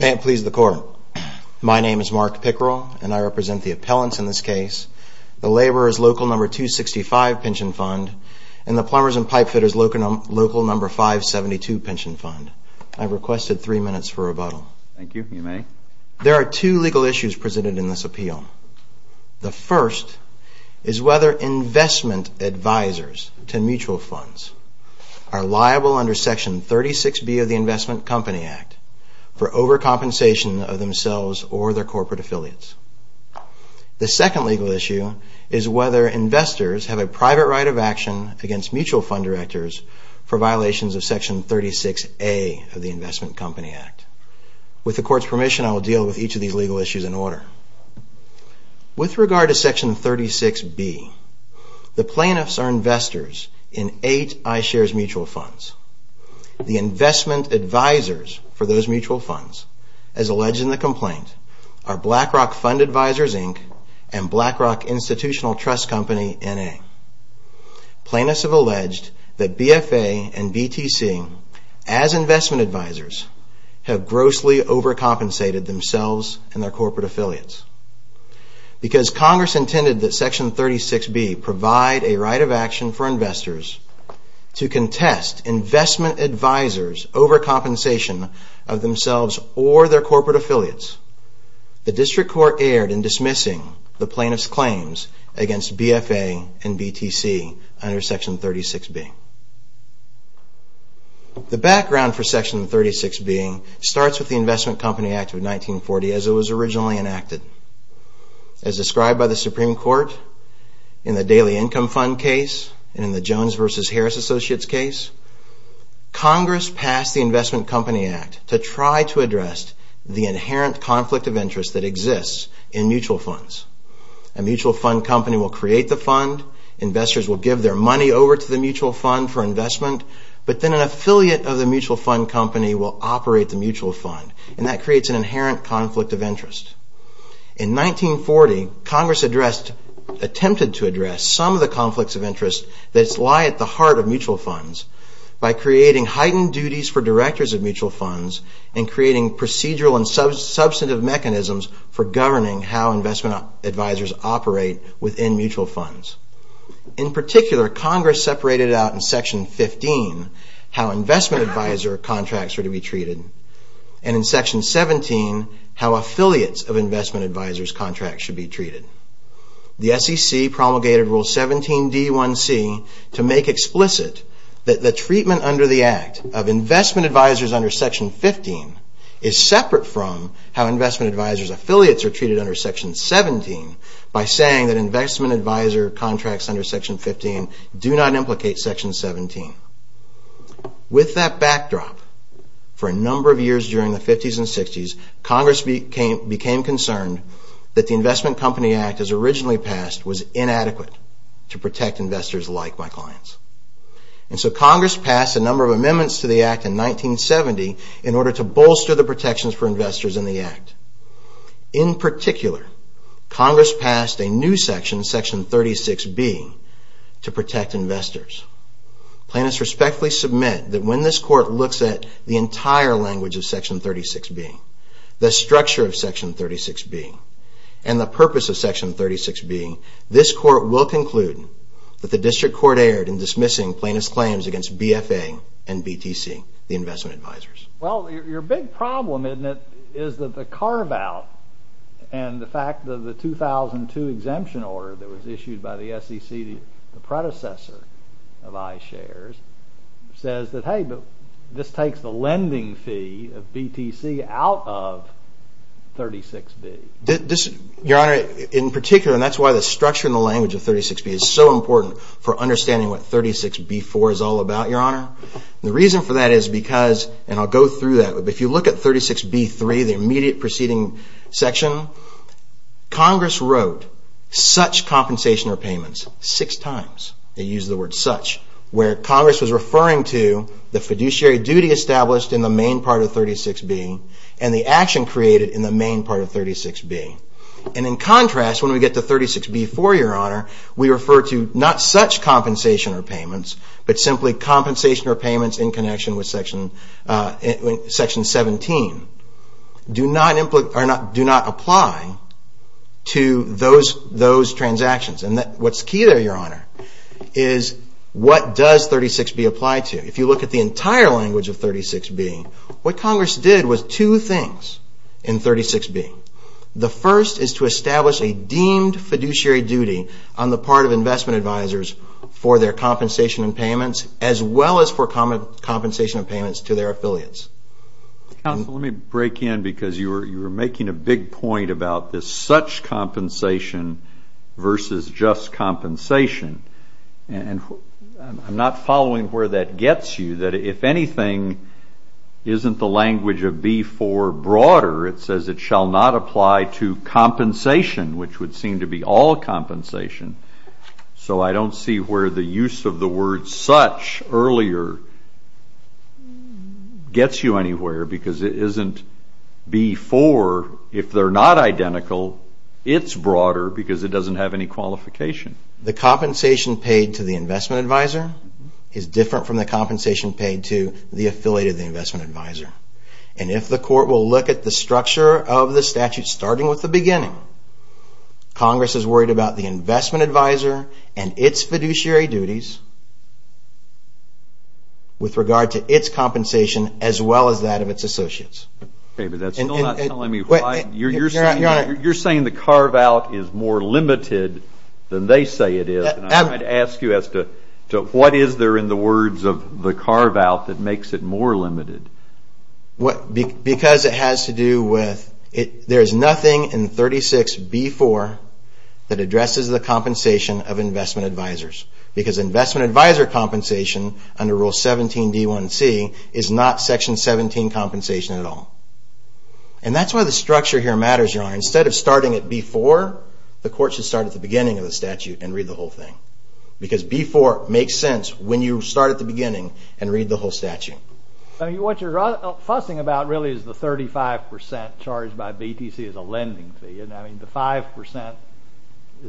May it please the Court, my name is Mark Pickerel and I represent the appellants in this case. The first is whether investment advisors to mutual funds are liable under Section 36B of the Investment Company Act for overcompensation of themselves or their corporate affiliates. The second legal issue is whether investors have a private right of action against mutual fund directors for violations of Section 36A of the Investment Company Act. With the Court's permission, I will deal with each of these legal issues in order. With regard to Section 36B, the plaintiffs are investors in eight iShares mutual funds. The investment advisors for those mutual funds, as alleged in the complaint, are BlackRock Fund Advisors, Inc. and BlackRock Institutional Trust Company, N.A. Plaintiffs have alleged that BFA and BTC, as investment advisors, have grossly overcompensated themselves and their corporate affiliates. Because Congress intended that Section 36B provide a right of action for investors to contest investment advisors overcompensation of themselves or their corporate affiliates, the District Court erred in dismissing the plaintiffs' claims against BFA and BTC under Section 36B. The background for Section 36B starts with the Investment Company Act of 1940 as it was originally enacted. As described by the Supreme Court in the Daily Income Fund case and in the Jones v. Harris Associates case, Congress passed the Investment Company Act to try to address the inherent conflict of interest that exists in mutual funds. A mutual fund company will create the fund, investors will give their money over to the mutual fund for investment, but then an affiliate of the mutual fund company will operate the mutual fund, and that creates an inherent conflict of interest. In 1940, Congress attempted to address some of the conflicts of interest that lie at the heart of mutual funds by creating heightened duties for directors of mutual funds and creating procedural and substantive mechanisms for governing how investment advisors operate within mutual funds. In particular, Congress separated out in Section 15 how investment advisor contracts are to be treated and in Section 17 how affiliates of investment advisors' contracts should be treated. The SEC promulgated Rule 17d1c to make explicit that the treatment under the Act of investment advisors under Section 15 is separate from how investment advisors' affiliates are treated under Section 17 by saying that investment advisor contracts under Section 15 do not implicate Section 17. With that backdrop, for a number of years during the 50s and 60s, Congress became concerned that the Investment Company Act as originally passed was inadequate to protect investors like my clients. And so Congress passed a number of amendments to the Act in 1970 in order to bolster the protections for investors in the Act. In particular, Congress passed a new section, Section 36b, to protect investors. Plaintiffs respectfully submit that when this Court looks at the entire language of Section 36b, the structure of Section 36b, and the purpose of Section 36b, this Court will conclude that the District Court erred in dismissing plaintiffs' claims against BFA and BTC, the investment advisors. Well, your big problem, isn't it, is that the carve-out and the fact that the 2002 exemption order that was issued by the SEC, the predecessor of iShares, says that, hey, this takes the lending fee of BTC out of 36b. Your Honor, in particular, and that's why the structure and the language of 36b is so important for understanding what 36b-4 is all about, Your Honor. The reason for that is because, and I'll go through that, but if you look at 36b-3, the immediate preceding section, Congress wrote such compensation or payments six times. They used the word such, where Congress was referring to the fiduciary duty established in the main part of 36b and the action created in the main part of 36b. And in contrast, when we get to 36b-4, Your Honor, we refer to not such compensation or payments, but simply compensation or payments in connection with Section 17. Do not apply to those transactions. And what's key there, Your Honor, is what does 36b apply to? If you look at the entire language of 36b, what Congress did was two things in 36b. The first is to establish a deemed fiduciary duty on the part of investment advisors for their compensation and payments, as well as for compensation and payments to their affiliates. Counsel, let me break in because you were making a big point about this such compensation versus just compensation. And I'm not following where that gets you, that if anything, isn't the language of B-4 broader? It says it shall not apply to compensation, which would seem to be all compensation. So I don't see where the use of the word such earlier gets you anywhere because it isn't B-4. If they're not identical, it's broader because it doesn't have any qualification. The compensation paid to the investment advisor is different from the compensation paid to the affiliate of the investment advisor. And if the court will look at the structure of the statute starting with the beginning, Congress is worried about the investment advisor and its fiduciary duties with regard to its compensation as well as that of its associates. You're saying the carve-out is more limited than they say it is. I'd ask you as to what is there in the words of the carve-out that makes it more limited? Because it has to do with there is nothing in 36B-4 that addresses the compensation of investment advisors. Because investment advisor compensation under Rule 17d1c is not Section 17 compensation at all. And that's why the structure here matters, Your Honor. Instead of starting at B-4, the court should start at the beginning of the statute and read the whole thing. Because B-4 makes sense when you start at the beginning and read the whole statute. What you're fussing about really is the 35% charged by BTC as a lending fee.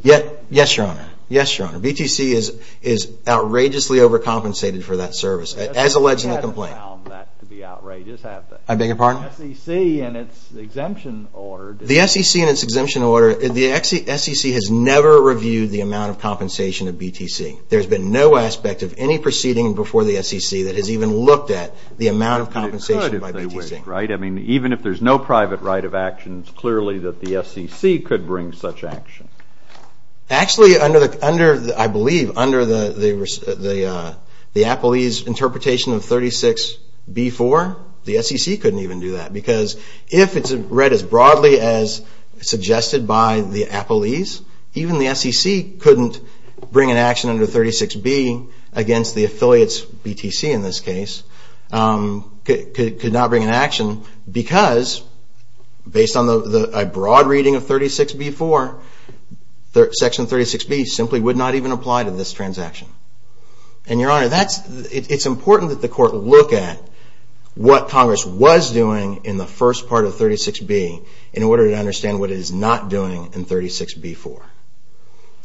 Yes, Your Honor. BTC is outrageously overcompensated for that service, as alleged in the complaint. The SEC hasn't found that to be outrageous, has it? I beg your pardon? The SEC and its exemption order. The SEC and its exemption order. The SEC has never reviewed the amount of compensation of BTC. There's been no aspect of any proceeding before the SEC that has even looked at the amount of compensation by BTC. Even if there's no private right of action, it's clearly that the SEC could bring such action. Actually, I believe, under the Appleese interpretation of 36B-4, the SEC couldn't even do that. Because if it's read as broadly as suggested by the Appleese, even the SEC couldn't bring an action under 36B against the affiliates, BTC in this case, could not bring an action because, based on a broad reading of 36B-4, Section 36B simply would not even apply to this transaction. And, Your Honor, it's important that the Court look at what Congress was doing in the first part of 36B in order to understand what it is not doing in 36B-4.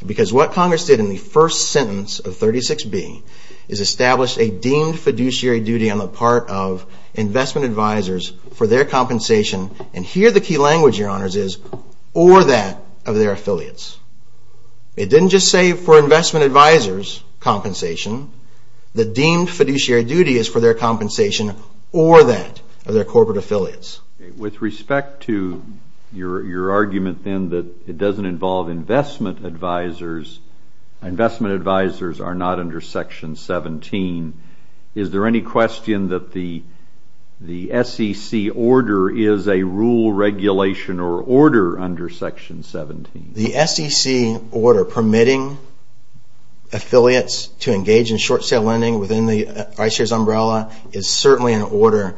Because what Congress did in the first sentence of 36B is establish a deemed fiduciary duty on the part of investment advisors for their compensation, and here the key language, Your Honors, is, or that of their affiliates. It didn't just say for investment advisors' compensation. The deemed fiduciary duty is for their compensation or that of their corporate affiliates. With respect to your argument, then, that it doesn't involve investment advisors, investment advisors are not under Section 17, is there any question that the SEC order is a rule regulation or order under Section 17? The SEC order permitting affiliates to engage in short sale lending within the iShares umbrella is certainly an order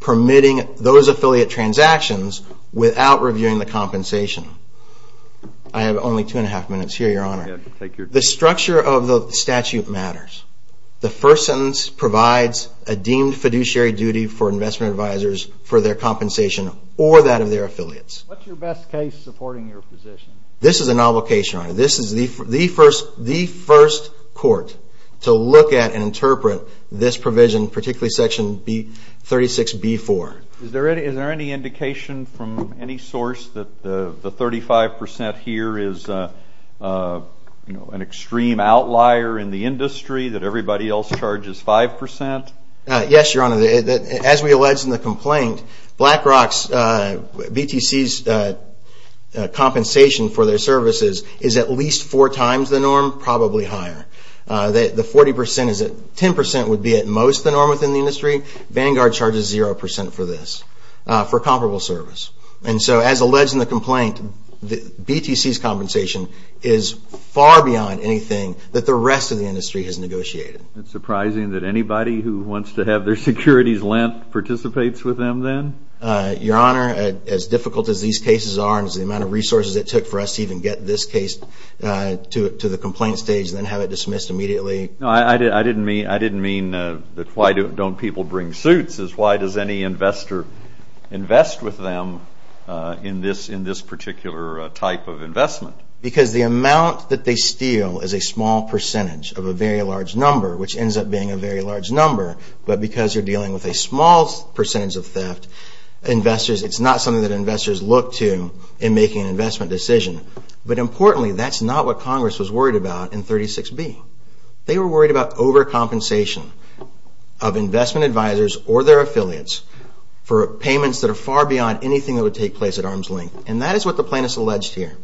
permitting those affiliate transactions without reviewing the compensation. I have only two and a half minutes here, Your Honor. The structure of the statute matters. The first sentence provides a deemed fiduciary duty for investment advisors for their compensation or that of their affiliates. What's your best case supporting your position? This is a novel case, Your Honor. This is the first court to look at and interpret this provision, particularly Section 36B-4. Is there any indication from any source that the 35% here is an extreme outlier in the industry, that everybody else charges 5%? Yes, Your Honor. As we alleged in the complaint, BlackRock's, BTC's compensation for their services is at least four times the norm, probably higher. The 40% is at 10% would be at most the norm within the industry. Vanguard charges 0% for this, for comparable service. And so as alleged in the complaint, BTC's compensation is far beyond anything that the rest of the industry has negotiated. It's surprising that anybody who wants to have their securities lent participates with them then? Your Honor, as difficult as these cases are the amount of resources it took for us to even get this case to the complaint stage and then have it dismissed immediately? No, I didn't mean that why don't people bring suits. It's why does any investor invest with them in this particular type of investment? Because the amount that they steal is a small percentage of a very large number, which ends up being a very large number. But because you're dealing with a small percentage of theft, it's not something that investors look to in making an investment decision. But importantly, that's not what Congress was worried about in 36B. They were worried about overcompensation of investment advisors or their affiliates for payments that are far beyond anything that would take place at arm's length. And that is what the plaintiffs alleged here.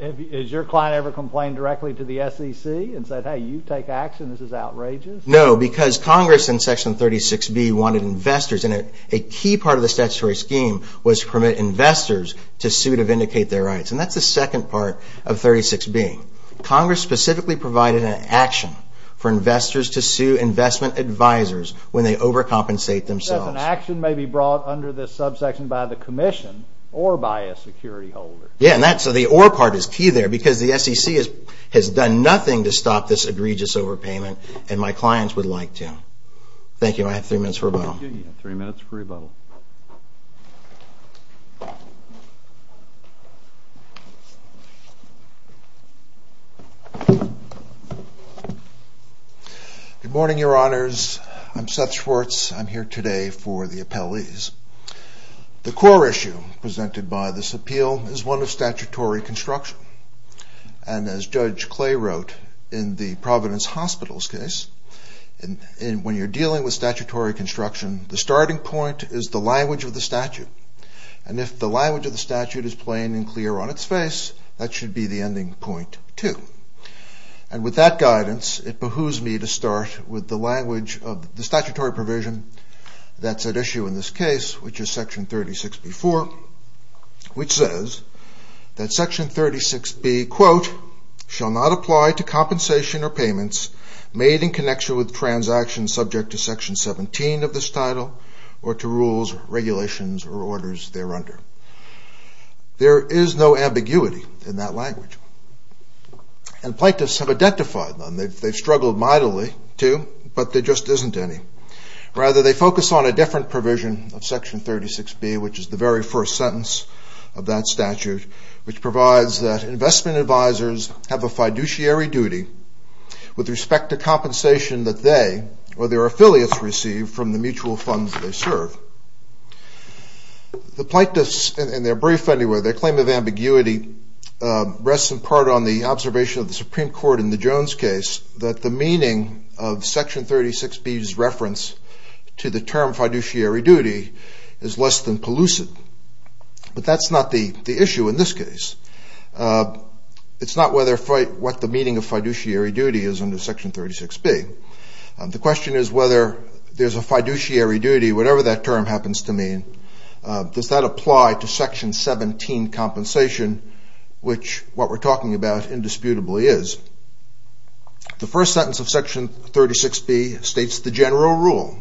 Has your client ever complained directly to the SEC and said, hey, you take action, this is outrageous? No, because Congress in Section 36B wanted investors and a key part of the statutory scheme was to permit investors to sue to vindicate their rights. And that's the second part of 36B. Congress specifically provided an action for investors to sue investment advisors when they overcompensate themselves. An action may be brought under this subsection by the commission or by a security holder. Yeah, and that's the or part is key there because the SEC has done nothing to stop this egregious overpayment and my clients would like to. Thank you. I have three minutes for rebuttal. You have three minutes for rebuttal. Good morning, Your Honors. I'm Seth Schwartz. I'm here today for the appellees. The core issue presented by this appeal is one of statutory construction. And as Judge Clay wrote in the Providence Hospital's case, when you're dealing with statutory construction, the starting point is the language of the statute. And if the language of the statute is plain and clear on its face, that should be the ending point, too. And with that guidance, it behooves me to start with the language of the statutory provision that's at issue in this case, which is Section 36B.4, which says that Section 36B, quote, shall not apply to compensation or payments made in connection with transactions subject to Section 17 of this title or to rules, regulations, or orders thereunder. There is no ambiguity in that language. And plaintiffs have identified them. They've struggled mightily to, but there just isn't any. Rather, they focus on a different provision of Section 36B, which is the very first sentence of that statute, which provides that investment advisors have a fiduciary duty with respect to compensation that they or their affiliates receive from the mutual funds they serve. The plaintiffs in their brief anyway, their claim of ambiguity, rests in part on the observation of the Supreme Court in the Jones case that the meaning of Section 36B's reference to the term fiduciary duty is less than pellucid. But that's not the issue in this case. It's not what the meaning of fiduciary duty is under Section 36B. The question is whether there's a fiduciary duty, whatever that term happens to mean, does that apply to Section 17 compensation, which what we're talking about indisputably is. The first sentence of Section 36B states the general rule.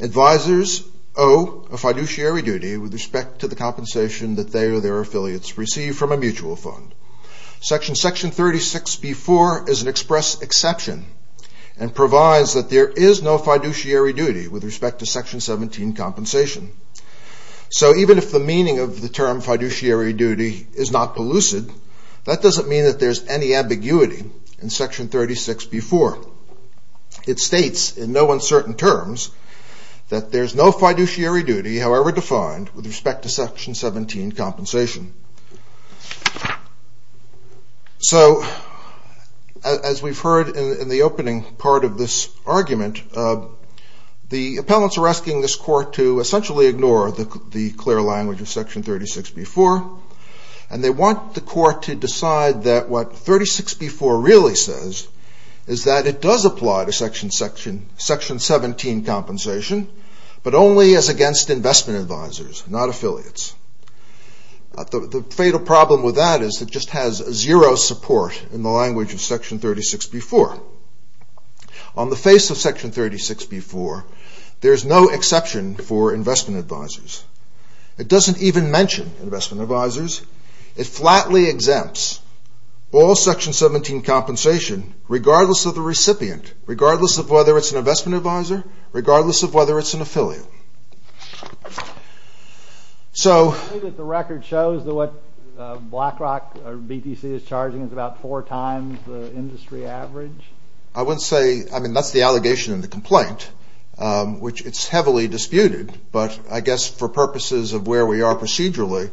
Advisors owe a fiduciary duty with respect to the compensation that they or their affiliates receive from a mutual fund. Section 36B-4 is an express exception and provides that there is no fiduciary duty with respect to Section 17 compensation. So even if the meaning of the term fiduciary duty is not pellucid, that doesn't mean that there's any ambiguity in Section 36B-4. It states in no uncertain terms that there's no fiduciary duty, however defined, with respect to Section 17 compensation. So as we've heard in the opening part of this argument, the appellants are asking this court to essentially ignore the clear language of Section 36B-4, and they want the court to decide that what 36B-4 really says is that it does apply to Section 17 compensation, but only as against investment advisors, not affiliates. The fatal problem with that is it just has zero support in the language of Section 36B-4. On the face of Section 36B-4, there's no exception for investment advisors. It doesn't even mention investment advisors. It flatly exempts all Section 17 compensation, regardless of the recipient, regardless of whether it's an investment advisor, regardless of whether it's an affiliate. So... for purposes of where we are procedurally,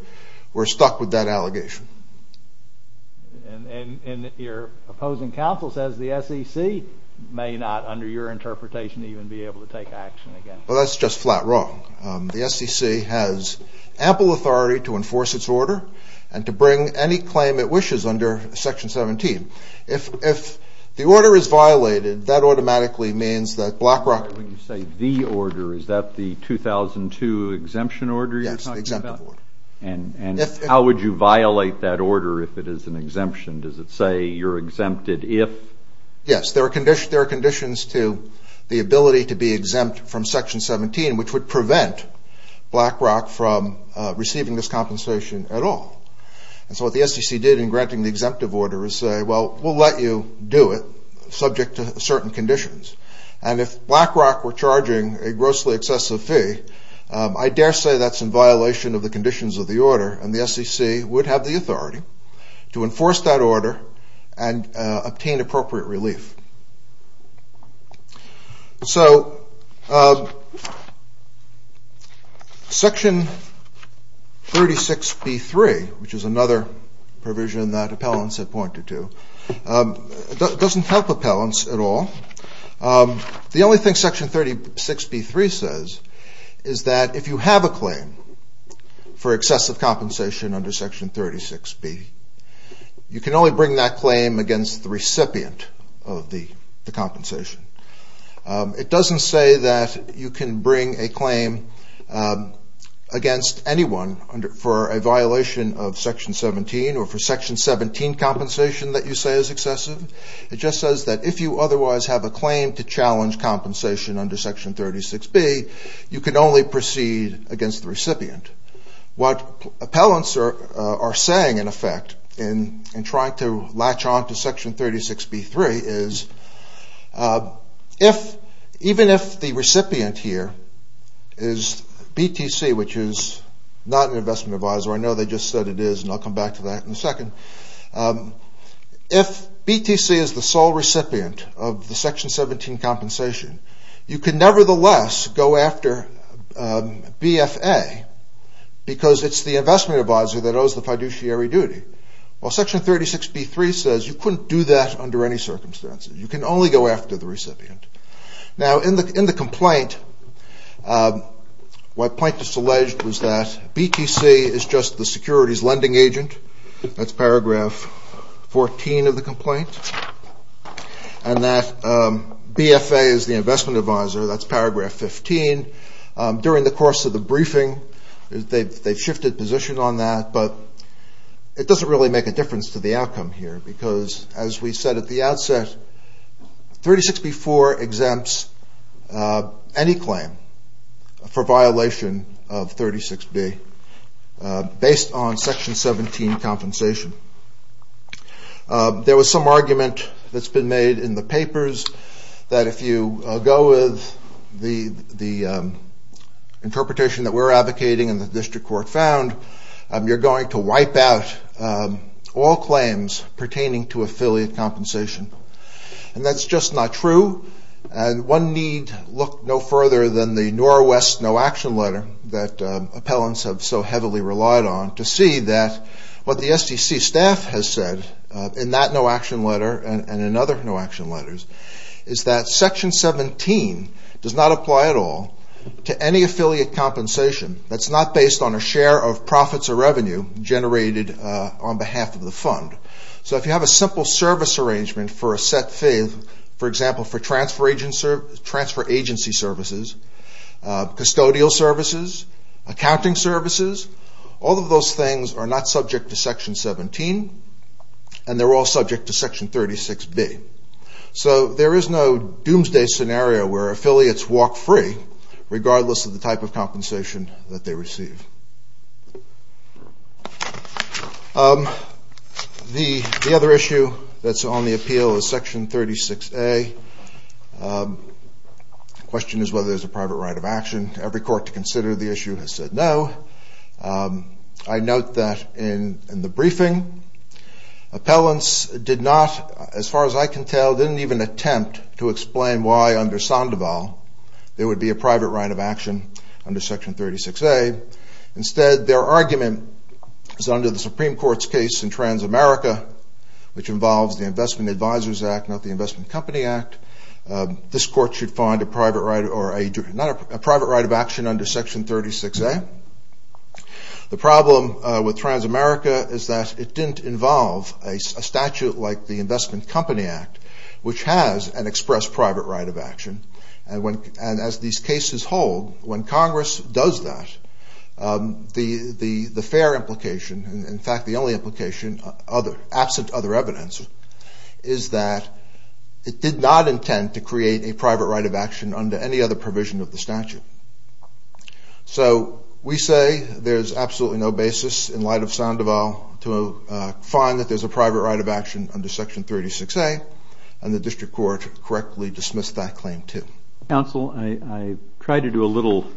we're stuck with that allegation. And your opposing counsel says the SEC may not, under your interpretation, even be able to take action against it. Well, that's just flat wrong. The SEC has ample authority to enforce its order and to bring any claim it wishes under Section 17. If the order is violated, that automatically means that BlackRock... When you say the order, is that the 2002 exemption order you're talking about? Yes, the exempt order. And how would you violate that order if it is an exemption? Does it say you're exempted if... Yes, there are conditions to the ability to be exempt from Section 17, which would prevent BlackRock from receiving this compensation at all. And so what the SEC did in granting the exemptive order is say, well, we'll let you do it, subject to certain conditions. And if BlackRock were charging a grossly excessive fee, I dare say that's in violation of the conditions of the order, and the SEC would have the authority to enforce that order and obtain appropriate relief. So Section 36B.3, which is another provision that appellants have pointed to, doesn't help appellants at all. The only thing Section 36B.3 says is that if you have a claim for excessive compensation under Section 36B, you can only bring that claim against the recipient of the compensation. It doesn't say that you can bring a claim against anyone for a violation of Section 17, or for Section 17 compensation that you say is excessive. It just says that if you otherwise have a claim to challenge compensation under Section 36B, you can only proceed against the recipient. What appellants are saying, in effect, in trying to latch on to Section 36B.3, is even if the recipient here is BTC, which is not an investment advisor, I know they just said it is, and I'll come back to that in a second. If BTC is the sole recipient of the Section 17 compensation, you can nevertheless go after BFA, because it's the investment advisor that owes the fiduciary duty. While Section 36B.3 says you couldn't do that under any circumstances. You can only go after the recipient. In the complaint, what plaintiffs alleged was that BTC is just the securities lending agent. That's paragraph 14 of the complaint. And that BFA is the investment advisor, that's paragraph 15. During the course of the briefing, they've shifted position on that, but it doesn't really make a difference to the outcome here, because as we said at the outset, 36B.4 exempts any claim for violation of 36B. based on Section 17 compensation. There was some argument that's been made in the papers, that if you go with the interpretation that we're advocating and the district court found, you're going to wipe out all claims pertaining to affiliate compensation. And that's just not true. And one need look no further than the Norwest No Action Letter that appellants have so heavily relied on to see that what the SDC staff has said in that No Action Letter and in other No Action Letters, is that Section 17 does not apply at all to any affiliate compensation that's not based on a share of profits or revenue generated on behalf of the fund. So if you have a simple service arrangement for a set fee, for example, for transfer agency services, custodial services, accounting services, all of those things are not subject to Section 17, and they're all subject to Section 36B. So there is no doomsday scenario where affiliates walk free, regardless of the type of compensation that they receive. The other issue that's on the appeal is Section 36A. The question is whether there's a private right of action. Every court to consider the issue has said no. I note that in the briefing, appellants did not, as far as I can tell, didn't even attempt to explain why under Sandoval there would be a private right of action under Section 36A. Instead, their argument is that under the Supreme Court's case in Transamerica, which involves the Investment Advisors Act, not the Investment Company Act, this court should find a private right of action under Section 36A. The problem with Transamerica is that it didn't involve a statute like the Investment Company Act, which has an express private right of action, and as these cases hold, when Congress does that, the fair implication, in fact the only implication, absent other evidence, is that it did not We say there's absolutely no basis in light of Sandoval to find that there's a private right of action under Section 36A, and the District Court correctly dismissed that claim, too. Counsel, I tried to do a little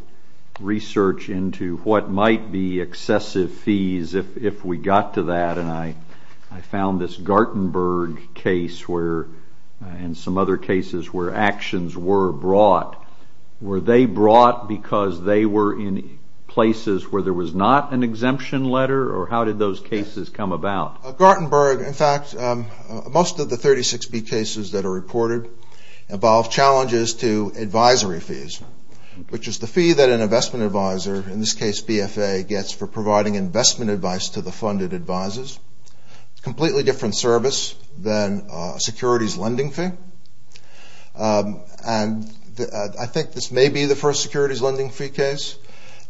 research into what might be excessive fees if we got to that, and I found this Gartenberg case and some other cases where actions were brought. Were they brought because they were in places where there was not an exemption letter, or how did those cases come about? Gartenberg, in fact, most of the 36B cases that are reported involve challenges to advisory fees, which is the fee that an investment advisor, in this case BFA, gets for providing investment advice to the funded advisors. Completely different service than a securities lending fee, and I think this may be the first securities lending fee case,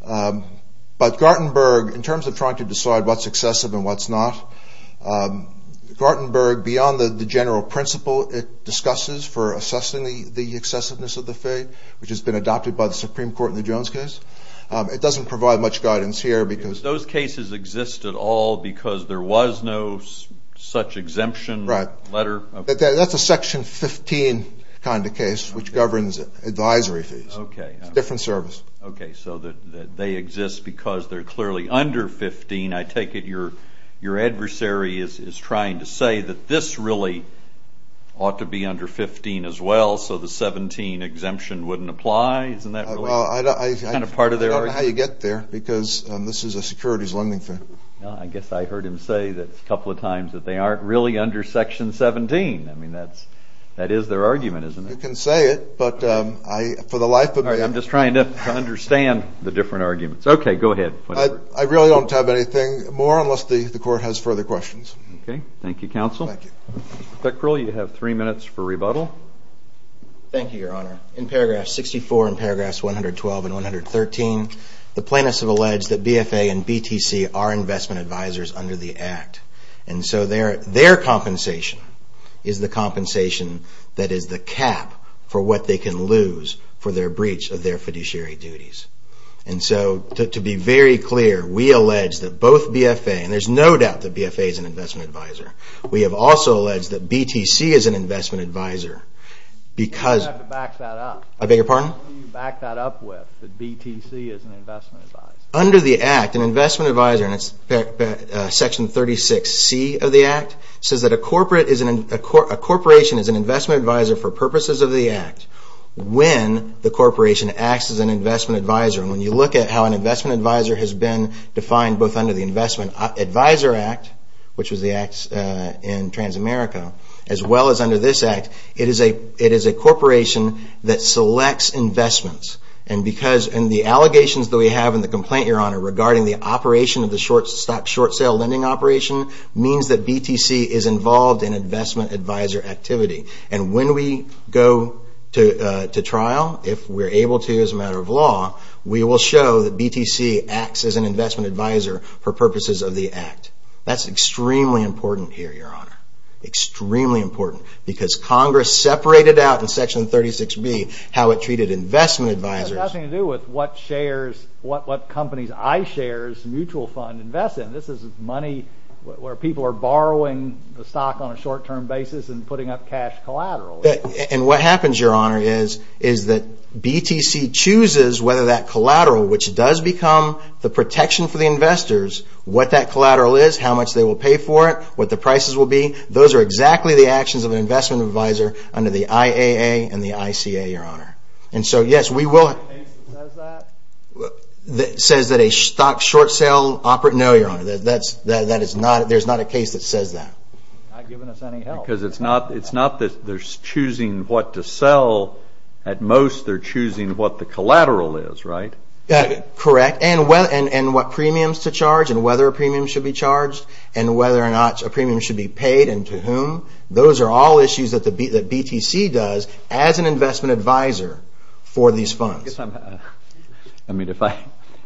but Gartenberg, in terms of trying to decide what's excessive and what's not, Gartenberg, beyond the general principle it discusses for assessing the excessiveness of the fee, which has been adopted by because there was no such exemption letter. That's a Section 15 kind of case, which governs advisory fees. It's a different service. Okay, so they exist because they're clearly under 15. I take it your adversary is trying to say that this really ought to be under 15 as well, so the 17 exemption wouldn't apply? I don't know how you get there, because this is a securities lending thing. I guess I heard him say a couple of times that they aren't really under Section 17. I mean, that is their argument, isn't it? You can say it, but for the life of me... I'm just trying to understand the different arguments. Okay, go ahead. I really don't have anything more unless the Court has further questions. Okay, thank you, Counsel. Mr. Pickrell, you have three minutes for rebuttal. Thank you, Your Honor. In paragraph 64 and paragraphs 112 and 113, the plaintiffs have alleged that BFA and BTC are investment advisors under the Act, and so their compensation is the compensation that is the cap for what they can lose for their breach of their fiduciary duties. And so, to be very clear, we allege that both BFA, and there's no doubt that BFA is an investment advisor, we have also alleged that BTC is an investment advisor because... You have to back that up. I beg your pardon? What do you back that up with, that BTC is an investment advisor? Under the Act, an investment advisor, and it's Section 36C of the Act, says that a corporation is an investment advisor for purposes of the Act when the corporation acts as an investment advisor. And when you look at how an investment advisor has been defined both under the Investment Advisor Act, which was the Act in Transamerica, as well as under this Act, it is a corporation that selects investments. And the allegations that we have in the complaint, Your Honor, regarding the operation of the short-stock, short-sale lending operation, means that BTC is involved in investment advisor activity. And when we go to trial, if we're able to as a matter of law, we will show that BTC acts as an investment advisor for purposes of the Act. That's extremely important here, Your Honor. Extremely important. Because Congress separated out in Section 36B how it treated investment advisors. It has nothing to do with what shares, what companies' iShares mutual fund invest in. This is money where people are borrowing the stock on a short-term basis and putting up cash collateral. And what happens, Your Honor, is that BTC chooses whether that collateral, which does become the protection for the investors, what that collateral is, how much they will pay for it, what the prices will be. Those are all issues that BTC does as an investment advisor for these funds. I mean,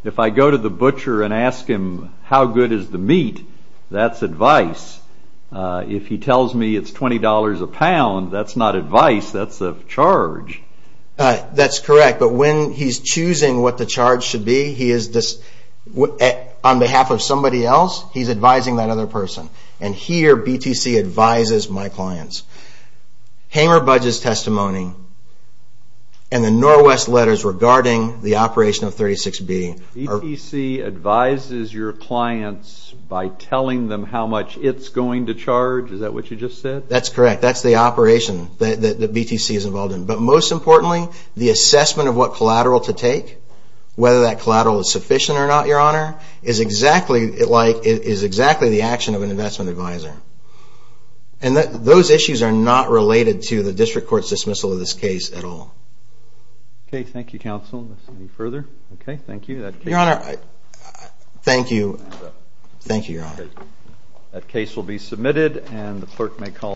if I go to the butcher and ask him, how good is the meat, that's advice. If he tells me it's $20 a pound, that's not advice, that's a charge. That's correct. But when he's choosing what the charge should be, on behalf of somebody else, he's advising that other person. And here, BTC advises my clients. Hamer Budge's testimony and the Norwest letters regarding the operation of 36B. BTC advises your clients by telling them how much it's going to charge? Is that what you just said? That's correct. That's the operation that BTC is involved in. But most importantly, the assessment of what collateral to take, whether that collateral is sufficient or not, Your Honor, is exactly the action of an investment advisor. And those issues are not related to the district court's dismissal of this case at all. Okay, thank you, counsel. Any further? Okay, thank you. Thank you, Your Honor.